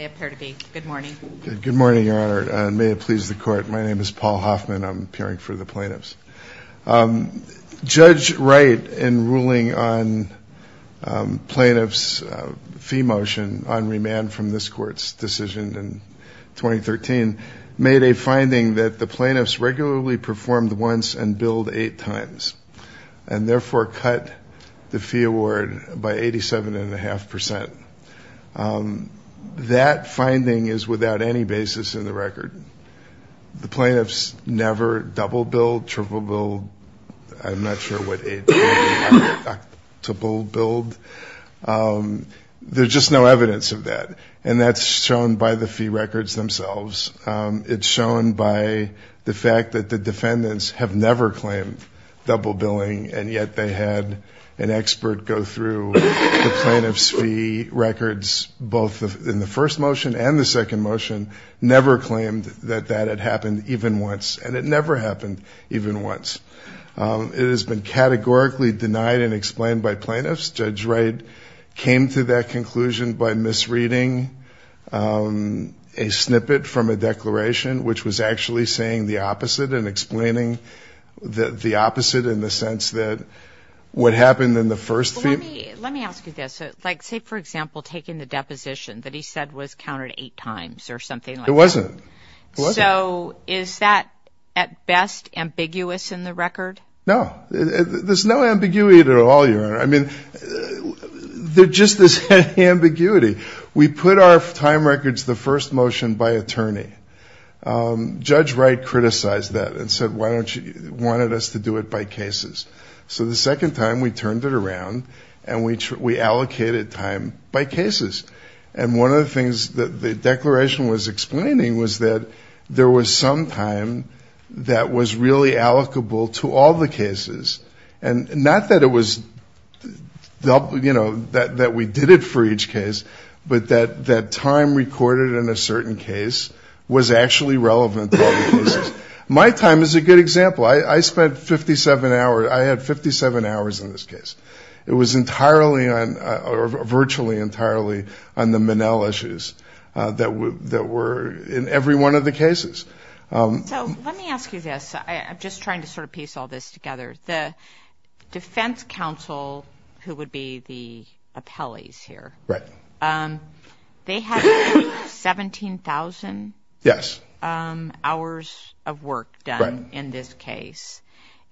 Good morning, Your Honor, and may it please the Court. My name is Paul Hoffman. I'm appearing for the plaintiffs. Judge Wright, in ruling on plaintiff's fee motion on remand from this court's decision in 2013, made a finding that the plaintiffs regularly performed once and billed eight times, and therefore cut the That finding is without any basis in the record. The plaintiffs never double billed, triple billed, I'm not sure what eight times they double billed. There's just no evidence of that, and that's shown by the fee records themselves. It's shown by the fact that the defendants have never claimed double billing, and yet they had an expert go through the plaintiff's fee records, both in the first motion and the second motion, never claimed that that had happened even once, and it never happened even once. It has been categorically denied and explained by plaintiffs. Judge Wright came to that conclusion by misreading a snippet from a declaration which was actually saying the opposite and explaining the opposite in the sense that what happened in the first fee... Let me ask you this, like say for example taking the deposition that he said was counted eight times or something like that. It wasn't. So is that at best ambiguous in the record? No. There's no ambiguity at all, your honor. I mean, there's just this ambiguity. We put our time records, the first motion, by attorney. Judge Wright criticized that and said why don't you, wanted us to do it by cases. So the second time we turned it around and we allocated time by cases. And one of the things that the declaration was explaining was that there was some time that was really allocable to all the cases, and not that it was... you know, that we did it for each case, but that time recorded in a certain case was actually relevant to all the cases. My time is a good example. I spent 57 hours, I had 57 hours in this case. And one of the things that the was entirely on, or virtually entirely, on the Monell issues that were in every one of the cases. So let me ask you this. I'm just trying to sort of piece all this together. The Defense Council, who would be the appellees here, they had 17,000 hours of work done in this case.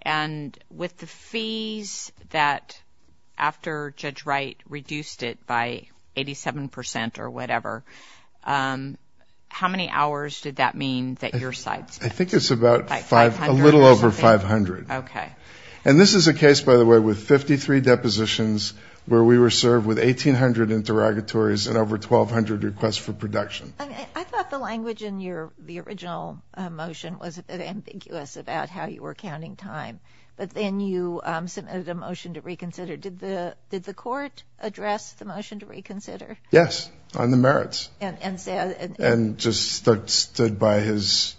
And with the fees that after Judge Wright reduced it by 87 percent or whatever, how many hours did that mean that your side spent? I think it's a little over 500. And this is a case, by the way, with 53 depositions where we were served with 1,800 interrogatories and over 1,200 requests for production. I thought the language in the original motion was a bit ambiguous about how you were counting time. But then you submitted a motion to reconsider. Did the court address the motion to reconsider? Yes, on the merits. And said... And just stood by his...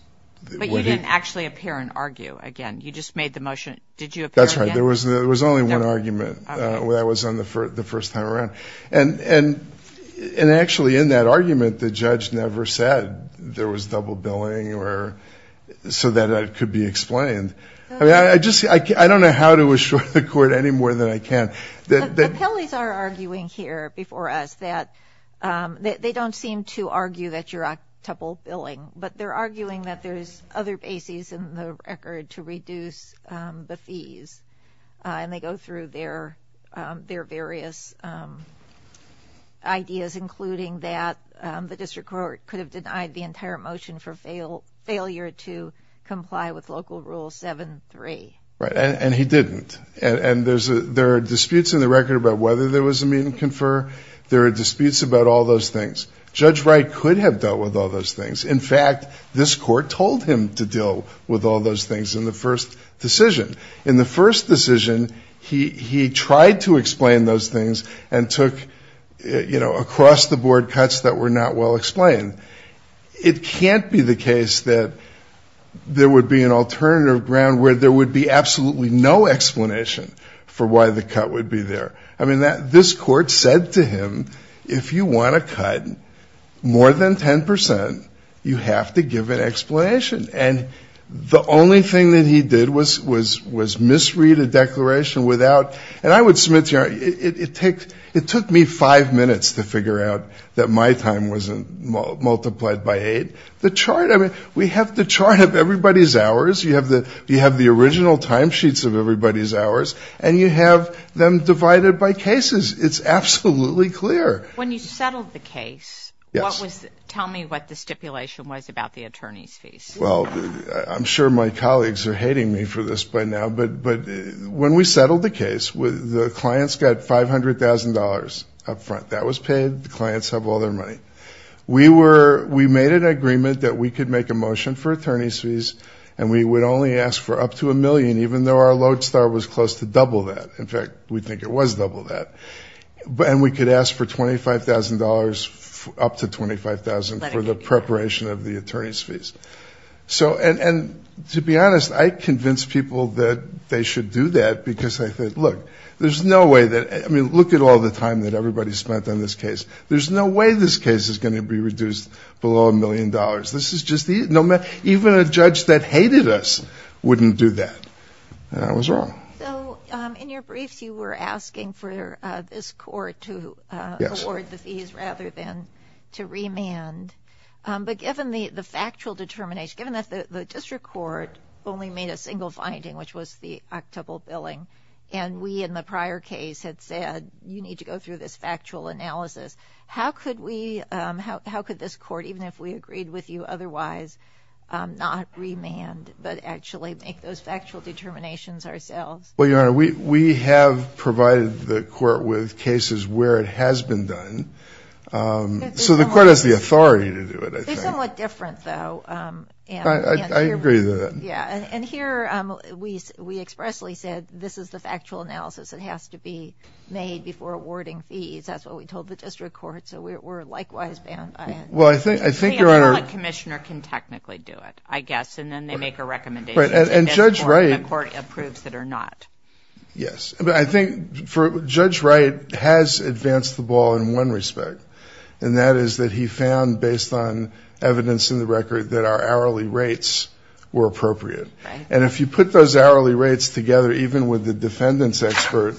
But you didn't actually appear and argue again. You just made the motion. Did you appear again? There was only one argument. That was the first time around. And actually, in that argument, the judge never said there was double billing so that it could be explained. I don't know how to assure the court any more than I can. The Pelley's are arguing here before us that they don't seem to argue that you're double billing. But they're arguing that there's other bases in the record to reduce the fees. And they go through their various ideas, including that the district court could have denied the entire motion for failure to comply with Local Rule 7-3. And he didn't. And there are disputes in the record about whether there was a meet and confer. There are disputes about all those things. Judge Wright could have dealt with all those things. In fact, this court told him to deal with all those things in the first decision. In the first decision, he tried to explain those things and took across-the-board cuts that were not well explained. It can't be the case that there would be an alternative ground where there would be absolutely no explanation for why the cut would be there. I mean, this court said to him, if you want a cut more than 10 percent, you have to give an explanation. And the only thing that he did was misread a declaration without-and I would submit to you, it took me five minutes to figure out that my time wasn't multiplied by eight. The chart-I mean, we have the chart of everybody's hours. You have the original timesheets of everybody's hours. And you have them divided by cases. It's absolutely clear. When you settled the case, what was-tell me what the stipulation was about the attorney's fees. Well, I'm sure my colleagues are hating me for this by now, but when we settled the case, the clients got $500,000 up front. That was paid. The clients have all their money. We made an agreement that we could make a motion for attorney's fees, and we would only ask for up to a million, even though our lodestar was close to double that. In fact, we think it was double that. And we could ask for $25,000, up to $25,000, for the preparation of the attorney's fees. So-and to be honest, I convinced people that they should do that because I said, look, there's no way that-I mean, look at all the time that everybody spent on this case. There's no way this case is going to be reduced below a million dollars. This is just-even a judge that hated us wouldn't do that. And I was wrong. So in your briefs, you were asking for this court to award the fees rather than to remand. But given the factual determination, given that the district court only made a single finding, which was the octuple billing, and we in the prior case had said, you need to go through this factual analysis, how could we-how could this court, even if we agreed with you otherwise, not remand, but actually make those factual determinations ourselves? Well, Your Honor, we have provided the court with cases where it has been done. So the court has the authority to do it, I think. They're somewhat different, though. I agree with that. And here, we expressly said, this is the factual analysis that has to be made before awarding fees. That's what we told the district court. So we're likewise banned by it. Well, I think-I think Your Honor- I mean, a public commissioner can technically do it, I guess, and then they make a recommendation. And Judge Wright- And the court approves that or not. Yes. But I think for-Judge Wright has advanced the ball in one respect, and that is that he found, based on evidence in the record, that our hourly rates were appropriate. And if you put those hourly rates together, even with the defendant's expert,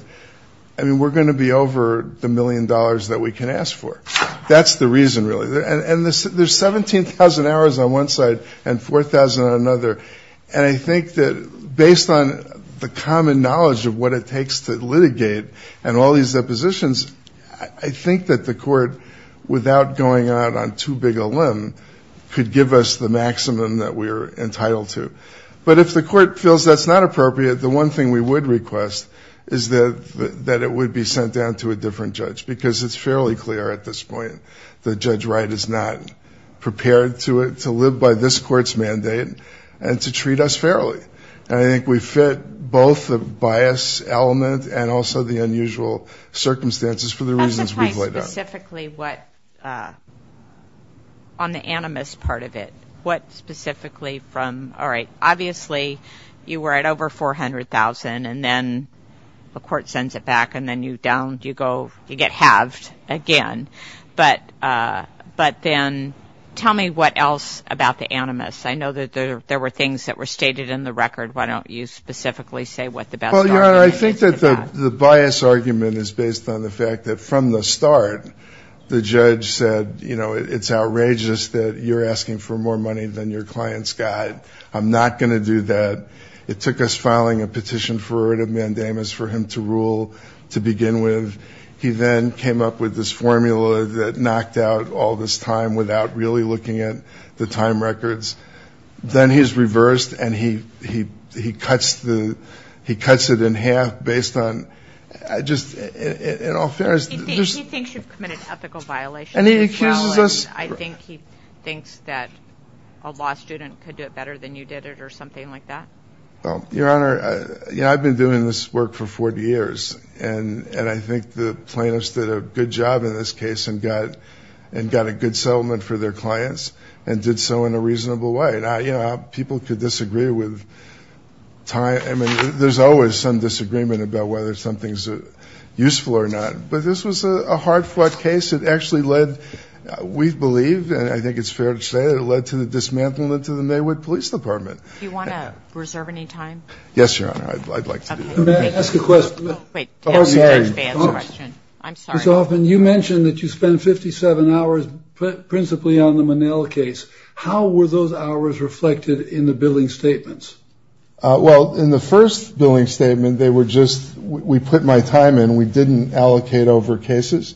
I mean, we're going to be over the million dollars that we can ask for. That's the reason, really. And there's 17,000 hours on one side and 4,000 on another. And I think that, based on the common knowledge of what it takes to litigate and all these depositions, I think that the court, without going out on too big a limb, could give us the maximum that we're entitled to. But if the court feels that's not appropriate, the one thing we would request is that it would be sent down to a different judge. Because it's fairly clear at this point that Judge Wright is not prepared to live by this court's mandate and to treat us fairly. And I think we fit both the bias element and also the unusual circumstances for the reasons we've laid out. And specifically what, on the animus part of it, what specifically from, all right, obviously you were at over 400,000, and then the court sends it back, and then you go, you get halved again. But then tell me what else about the animus. I know that there were things that were stated in the record. Why don't you specifically say what the best argument is for that? Well, Your Honor, I think that the bias argument is based on the fact that from the start, the judge said, you know, it's outrageous that you're asking for more money than your client's got. I'm not going to do that. It took us filing a petition for a writ of mandamus for him to rule to begin with. He then came up with this formula that knocked out all this time without really looking at the time records. Then he's reversed, and he cuts it in half based on just, in all fairness. He thinks you've committed ethical violations as well. And he accuses us. I think he thinks that a law student could do it better than you did it or something like that. Well, Your Honor, I've been doing this work for 40 years, and I think the plaintiffs did a good job in this case and got a good settlement for their clients and did so in a reasonable way. You know, people could disagree with time. I mean, there's always some disagreement about whether something's useful or not. But this was a hard-fought case. It actually led, we believe, and I think it's fair to say that it led to the dismantlement of the Maywood Police Department. Do you want to reserve any time? Yes, Your Honor, I'd like to do that. May I ask a question? I'm sorry. Mr. Hoffman, you mentioned that you spent 57 hours principally on the Monell case. How were those hours reflected in the billing statements? Well, in the first billing statement, they were just, we put my time in. We didn't allocate over cases.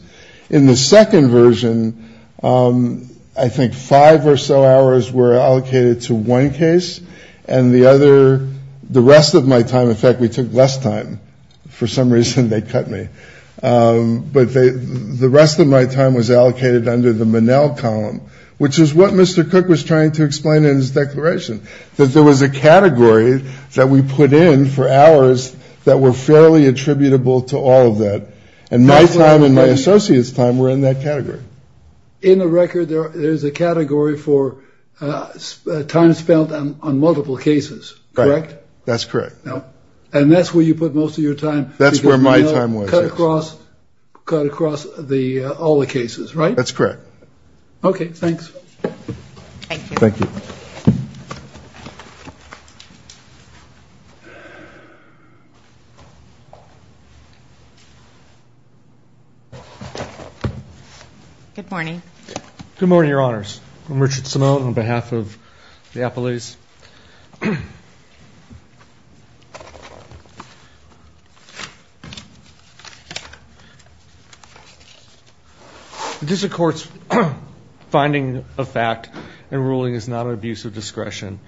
In the second version, I think five or so hours were allocated to one case. And the other, the rest of my time, in fact, we took less time. For some reason, they cut me. But the rest of my time was allocated under the Monell column, which is what Mr. Cook was trying to explain in his declaration, that there was a category that we put in for hours that were fairly attributable to all of that. And my time and my associate's time were in that category. In the record, there's a category for time spent on multiple cases, correct? That's correct. And that's where you put most of your time? That's where my time was, yes. Cut across all the cases, right? That's correct. Okay, thanks. Thank you. Thank you. Good morning. Good morning, Your Honors. I'm Richard Simone on behalf of the appellees. This is a court's finding of fact and ruling is not an abuse of discretion.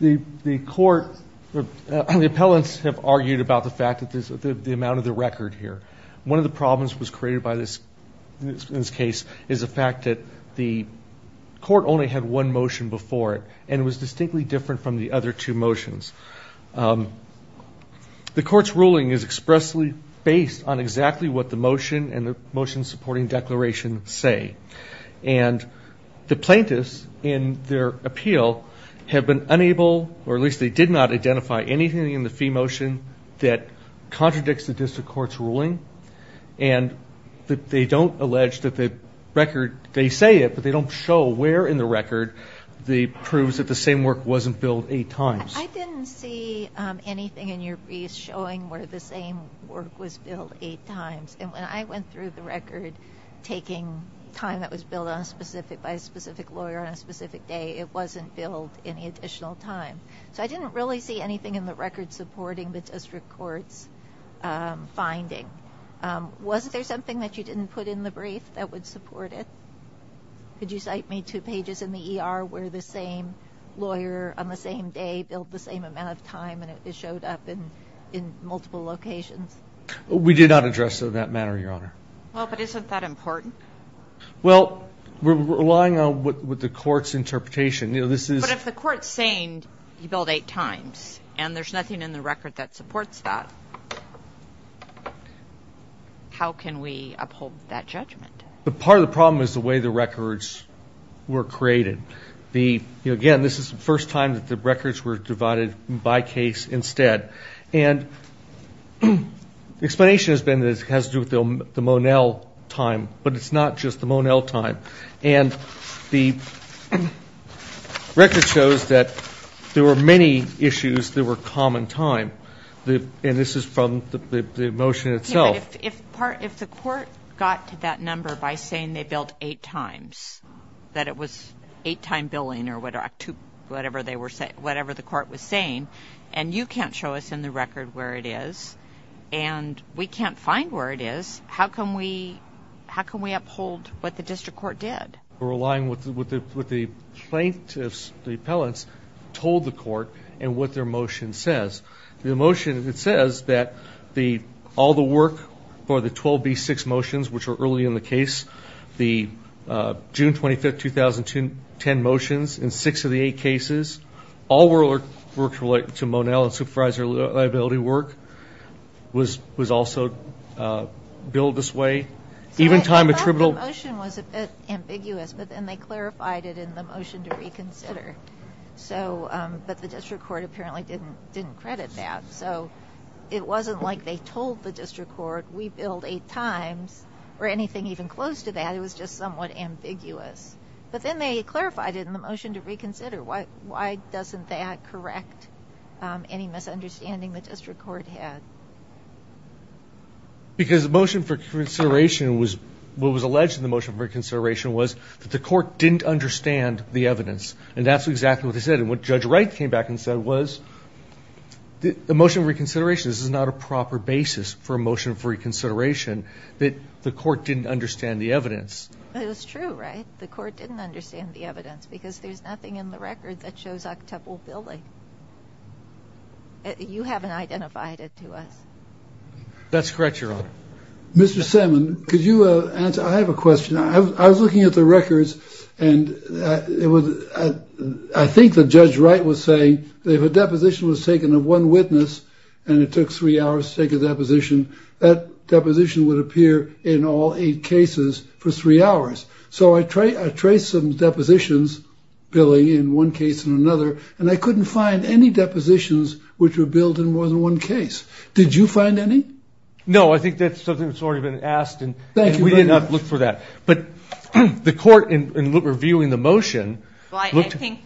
The court, the appellants have argued about the fact that the amount of the record here. One of the problems that was created by this case is the fact that the court only had one motion before it and it was distinctly different from the other two motions. The court's ruling is expressly based on exactly what the motion and the motion supporting declaration say. And the plaintiffs in their appeal have been unable, or at least they did not identify anything in the fee motion that contradicts the district court's ruling. And they don't allege that the record, they say it, but they don't show where in the record the proofs that the same work wasn't billed eight times. I didn't see anything in your brief showing where the same work was billed eight times. And when I went through the record taking time that was billed by a specific lawyer on a specific day, it wasn't billed any additional time. So I didn't really see anything in the record supporting the district court's finding. Wasn't there something that you didn't put in the brief that would support it? Could you cite me two pages in the ER where the same lawyer on the same day billed the same amount of time and it showed up in multiple locations? We did not address it in that manner, Your Honor. Well, but isn't that important? Well, we're relying on what the court's interpretation. But if the court's saying you billed eight times and there's nothing in the record that supports that, how can we uphold that judgment? Part of the problem is the way the records were created. Again, this is the first time that the records were divided by case instead. And the explanation has been that it has to do with the Monel time, but it's not just the Monel time. And the record shows that there were many issues that were common time. And this is from the motion itself. But if the court got to that number by saying they billed eight times, that it was eight-time billing or whatever the court was saying, and you can't show us in the record where it is, and we can't find where it is, how can we uphold what the district court did? We're relying on what the plaintiffs, the appellants, told the court and what their motion says. The motion, it says that all the work for the 12B6 motions, which were early in the case, the June 25, 2010 motions in six of the eight cases, all work related to Monel and supervisor liability work was also billed this way. Even time attributable. The motion was a bit ambiguous, but then they clarified it in the motion to reconsider. But the district court apparently didn't credit that. So it wasn't like they told the district court we billed eight times or anything even close to that. It was just somewhat ambiguous. But then they clarified it in the motion to reconsider. Why doesn't that correct any misunderstanding the district court had? Because the motion for consideration was, what was alleged in the motion for consideration was that the court didn't understand the evidence. And that's exactly what they said. And what Judge Wright came back and said was, the motion for reconsideration, this is not a proper basis for a motion for reconsideration, that the court didn't understand the evidence. It's true, right? The court didn't understand the evidence because there's nothing in the record that shows octuple billing. You haven't identified it to us. That's correct, Your Honor. Mr. Salmon, could you answer? I have a question. I was looking at the records and I think that Judge Wright was saying that if a deposition was taken of one witness and it took three hours to take a deposition, that deposition would appear in all eight cases for three hours. So I traced some depositions, billing in one case and another, and I couldn't find any depositions which were billed in more than one case. Did you find any? No, I think that's something that's already been asked and we did not look for that. But the court, in reviewing the motion, Well, I think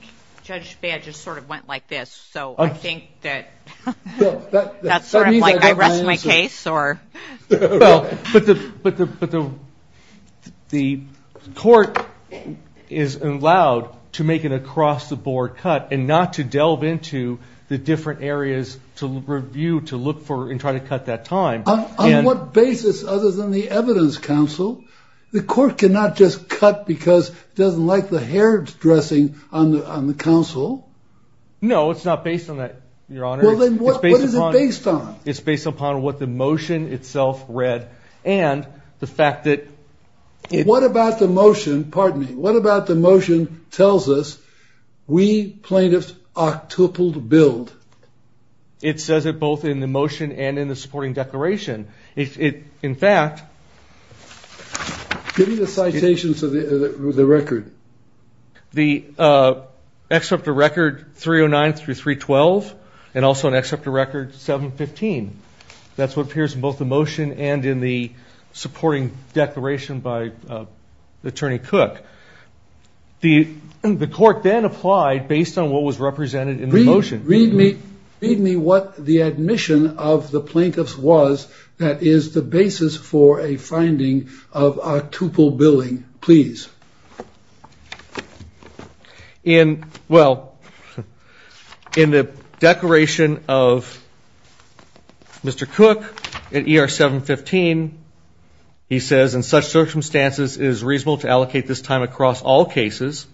Judge Baird just sort of went like this, so I think that's sort of like I rest my case. Well, but the court is allowed to make an across-the-board cut and not to delve into the different areas to review, to look for and try to cut that time. On what basis other than the evidence, counsel? The court cannot just cut because it doesn't like the hair dressing on the counsel. No, it's not based on that, your honor. Well, then what is it based on? It's based upon what the motion itself read and the fact that What about the motion, pardon me, what about the motion tells us we plaintiffs octupled billed? It says it both in the motion and in the supporting declaration. In fact, Give me the citations of the record. The excerpt of record 309 through 312 and also an excerpt of record 715. That's what appears in both the motion and in the supporting declaration by Attorney Cook. The court then applied based on what was represented in the motion. Read me what the admission of the plaintiffs was that is the basis for a finding of octuple billing, please. In the declaration of Mr. Cook at ER 715, he says, in such circumstances, it is reasonable to allocate this time across all cases.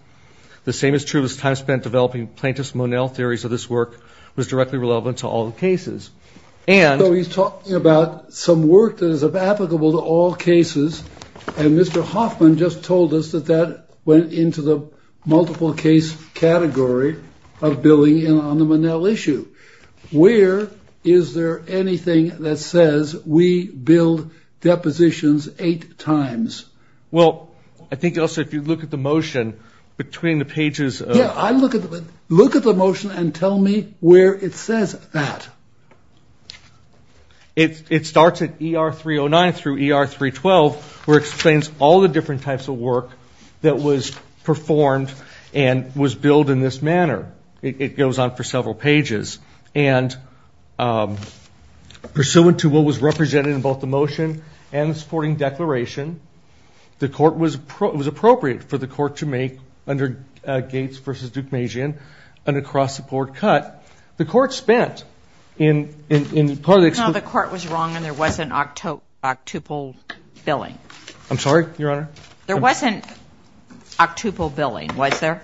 The same is true as time spent developing plaintiff's Monell theories of this work was directly relevant to all the cases. So he's talking about some work that is applicable to all cases. And Mr. Hoffman just told us that that went into the multiple case category of billing on the Monell issue. Where is there anything that says we billed depositions eight times? Well, I think also if you look at the motion between the pages. Look at the motion and tell me where it says that. It starts at ER 309 through ER 312 where it explains all the different types of work that was performed and was billed in this manner. It goes on for several pages. And pursuant to what was represented in both the motion and the supporting declaration, the court was appropriate for the court to make under Gates v. Duke Magian, an across-the-board cut. The court spent in part of the... No, the court was wrong and there wasn't octuple billing. I'm sorry, Your Honor? There wasn't octuple billing, was there?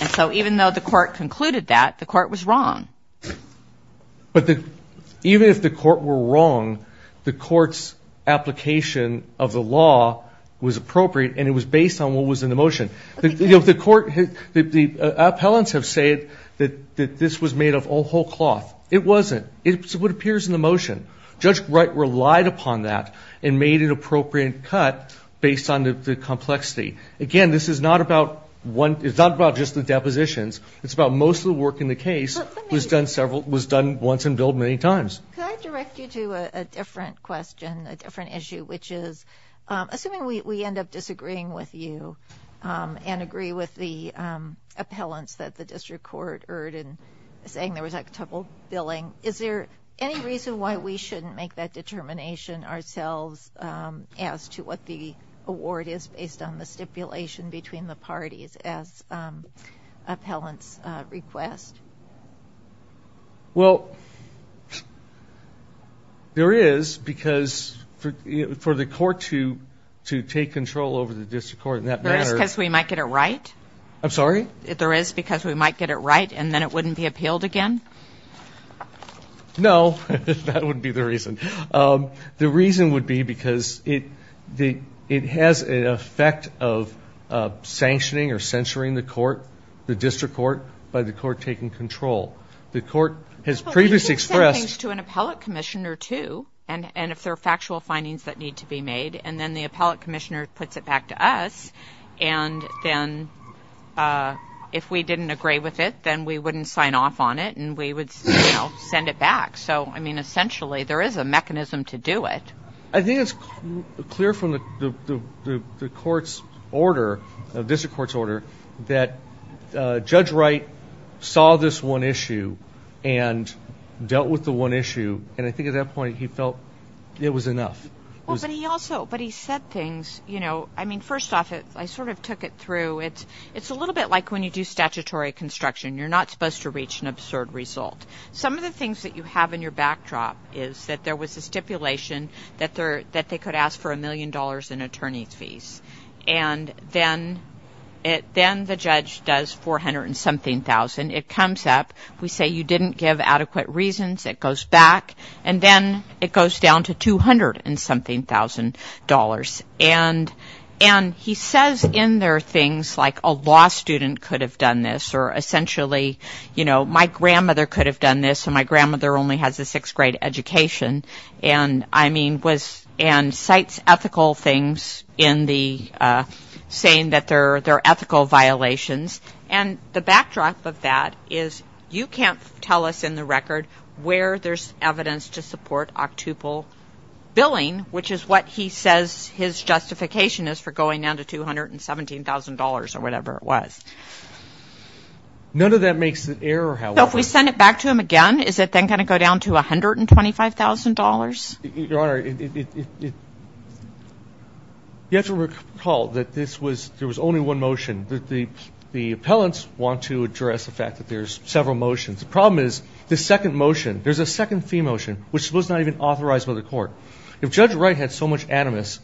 And so even though the court concluded that, the court was wrong. But even if the court were wrong, the court's application of the law was appropriate and it was based on what was in the motion. The appellants have said that this was made of whole cloth. It wasn't. It's what appears in the motion. Judge Wright relied upon that and made an appropriate cut based on the complexity. Again, this is not about just the depositions. It's about most of the work in the case was done once and billed many times. Could I direct you to a different question, a different issue, which is assuming we end up disagreeing with you and agree with the appellants that the district court heard in saying there was octuple billing, is there any reason why we shouldn't make that determination ourselves as to what the award is based on the stipulation between the parties as appellants request? Well, there is because for the court to take control over the district court in that manner. There is because we might get it right? I'm sorry? There is because we might get it right and then it wouldn't be appealed again? No, that wouldn't be the reason. The reason would be because it has an effect of sanctioning or censoring the court, the district court by the court taking control. The court has previously expressed... Well, we can send things to an appellate commissioner too and if there are factual findings that need to be made and then the appellate commissioner puts it back to us and then if we didn't agree with it, then we wouldn't sign off on it and we would send it back. So, I mean, essentially there is a mechanism to do it. I think it's clear from the court's order, the district court's order, that Judge Wright saw this one issue and dealt with the one issue and I think at that point he felt it was enough. But he said things, you know, I mean, first off, I sort of took it through. It's a little bit like when you do statutory construction. You're not supposed to reach an absurd result. Some of the things that you have in your backdrop is that there was a stipulation that they could ask for a million dollars in attorney's fees. And then the judge does four hundred and something thousand. It comes up. We say you didn't give adequate reasons. It goes back and then it goes down to two hundred and something thousand dollars. And he says in there things like a law student could have done this or essentially, you know, my grandmother could have done this and my grandmother only has a sixth grade education. And, I mean, and cites ethical things in the saying that they're ethical violations. And the backdrop of that is you can't tell us in the record where there's evidence to support octuple billing, which is what he says his justification is for going down to two hundred and seventeen thousand dollars or whatever it was. None of that makes an error, however. So if we send it back to him again, is it then going to go down to a hundred and twenty-five thousand dollars? Your Honor, you have to recall that this was, there was only one motion. The appellants want to address the fact that there's several motions. The problem is the second motion, there's a second fee motion, which was not even authorized by the court. If Judge Wright had so much animus,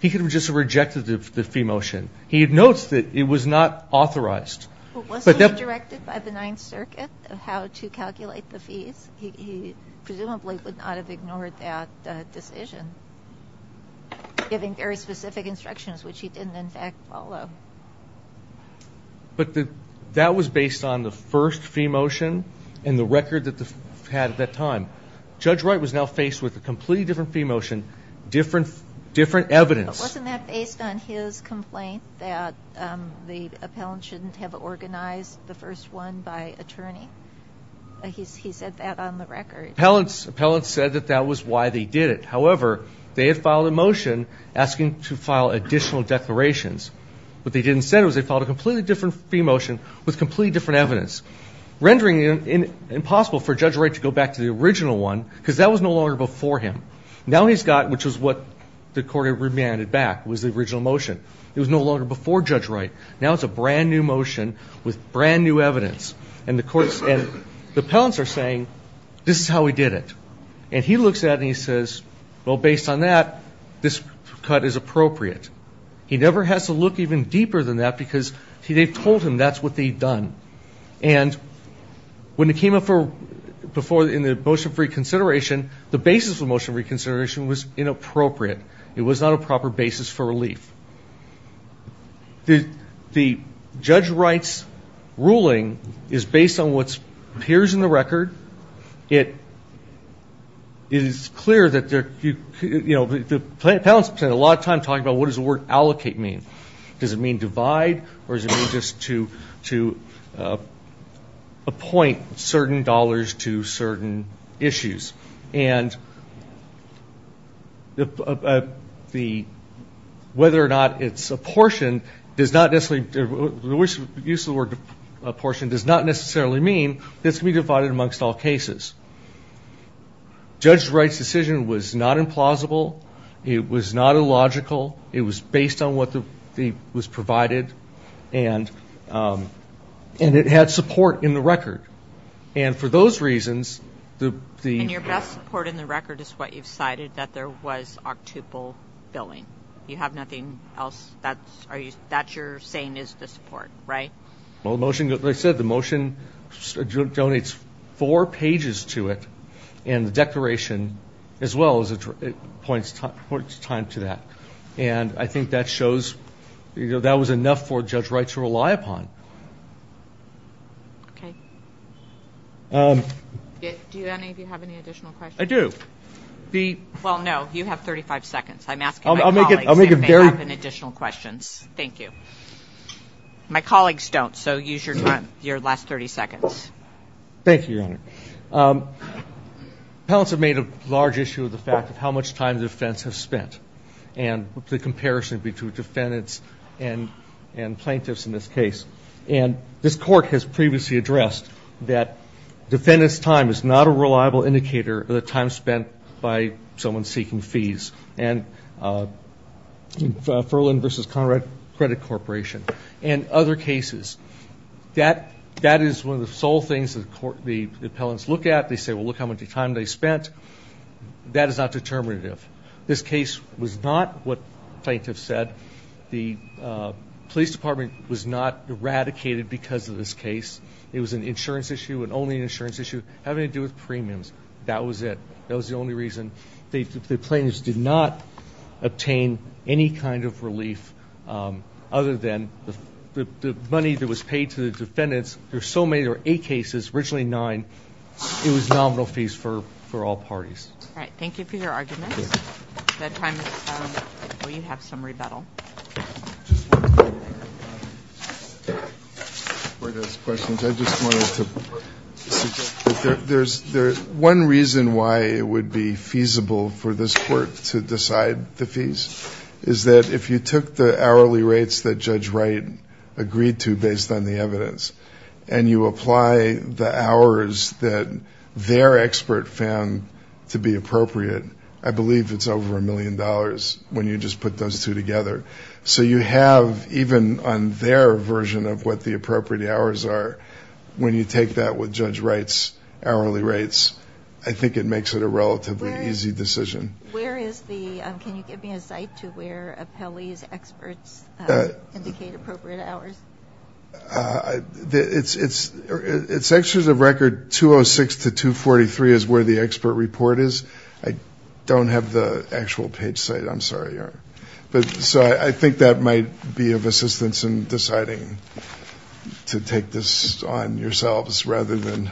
he could have just rejected the fee motion. He notes that it was not authorized. But wasn't it directed by the Ninth Circuit of how to calculate the fees? He presumably would not have ignored that decision, giving very specific instructions, which he didn't, in fact, follow. But that was based on the first fee motion and the record that they had at that time. Judge Wright was now faced with a completely different fee motion, different evidence. Wasn't that based on his complaint that the appellant shouldn't have organized the first one by attorney? He said that on the record. Appellants said that that was why they did it. However, they had filed a motion asking to file additional declarations. What they didn't say was they filed a completely different fee motion with completely different evidence, rendering it impossible for Judge Wright to go back to the original one because that was no longer before him. Now he's got, which is what the court had remanded back, was the original motion. It was no longer before Judge Wright. Now it's a brand new motion with brand new evidence. And the appellants are saying, this is how we did it. And he looks at it and he says, well, based on that, this cut is appropriate. He never has to look even deeper than that because they've told him that's what they've done. And when it came up before in the motion for reconsideration, the basis of the motion for reconsideration was inappropriate. It was not a proper basis for relief. The Judge Wright's ruling is based on what appears in the record. It is clear that there, you know, the appellants spent a lot of time talking about what does the word allocate mean. Does it mean divide or does it mean just to appoint certain dollars to certain issues? And the, whether or not it's apportioned does not necessarily, the use of the word apportioned does not necessarily mean it's going to be divided amongst all cases. Judge Wright's decision was not implausible. It was not illogical. It was based on what was provided and it had support in the record. And for those reasons, the- And your best support in the record is what you've cited, that there was octuple billing. You have nothing else? That's your saying is the support, right? Well, the motion, like I said, the motion donates four pages to it. And the declaration as well points time to that. And I think that shows, you know, that was enough for Judge Wright to rely upon. Okay. Do any of you have any additional questions? I do. Well, no, you have 35 seconds. I'm asking my colleagues if they have any additional questions. Thank you. My colleagues don't, so use your last 30 seconds. Thank you, Your Honor. Appellants have made a large issue of the fact of how much time the defense has spent. And the comparison between defendants and plaintiffs in this case. And this court has previously addressed that defendants' time is not a reliable indicator of the time spent by someone seeking fees. And Furlan v. Conrad Credit Corporation. And other cases. That is one of the sole things the appellants look at. They say, well, look how much time they spent. That is not determinative. This case was not what plaintiffs said. The police department was not eradicated because of this case. It was an insurance issue. And only an insurance issue having to do with premiums. That was it. That was the only reason. The plaintiffs did not obtain any kind of relief other than the money that was paid to the defendants. There are so many. There were eight cases, originally nine. It was nominal fees for all parties. Thank you for your arguments. At that time, we have some rebuttal. One reason why it would be feasible for this court to decide the fees. Is that if you took the hourly rates that Judge Wright agreed to based on the evidence. And you apply the hours that their expert found to be appropriate. I believe it is over a million dollars. When you just put those two together. So you have, even on their version of what the appropriate hours are. When you take that with Judge Wright's hourly rates. I think it makes it a relatively easy decision. Where is the, can you give me a site to where appellees, experts indicate appropriate hours? It's extras of record 206 to 243 is where the expert report is. I don't have the actual page site. I'm sorry. So I think that might be of assistance in deciding to take this on yourselves. Rather than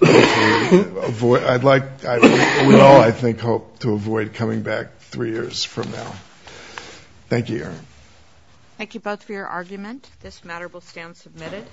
avoid, I'd like, we all I think hope to avoid coming back three years from now. Thank you. Thank you both for your argument. This matter will stand submitted.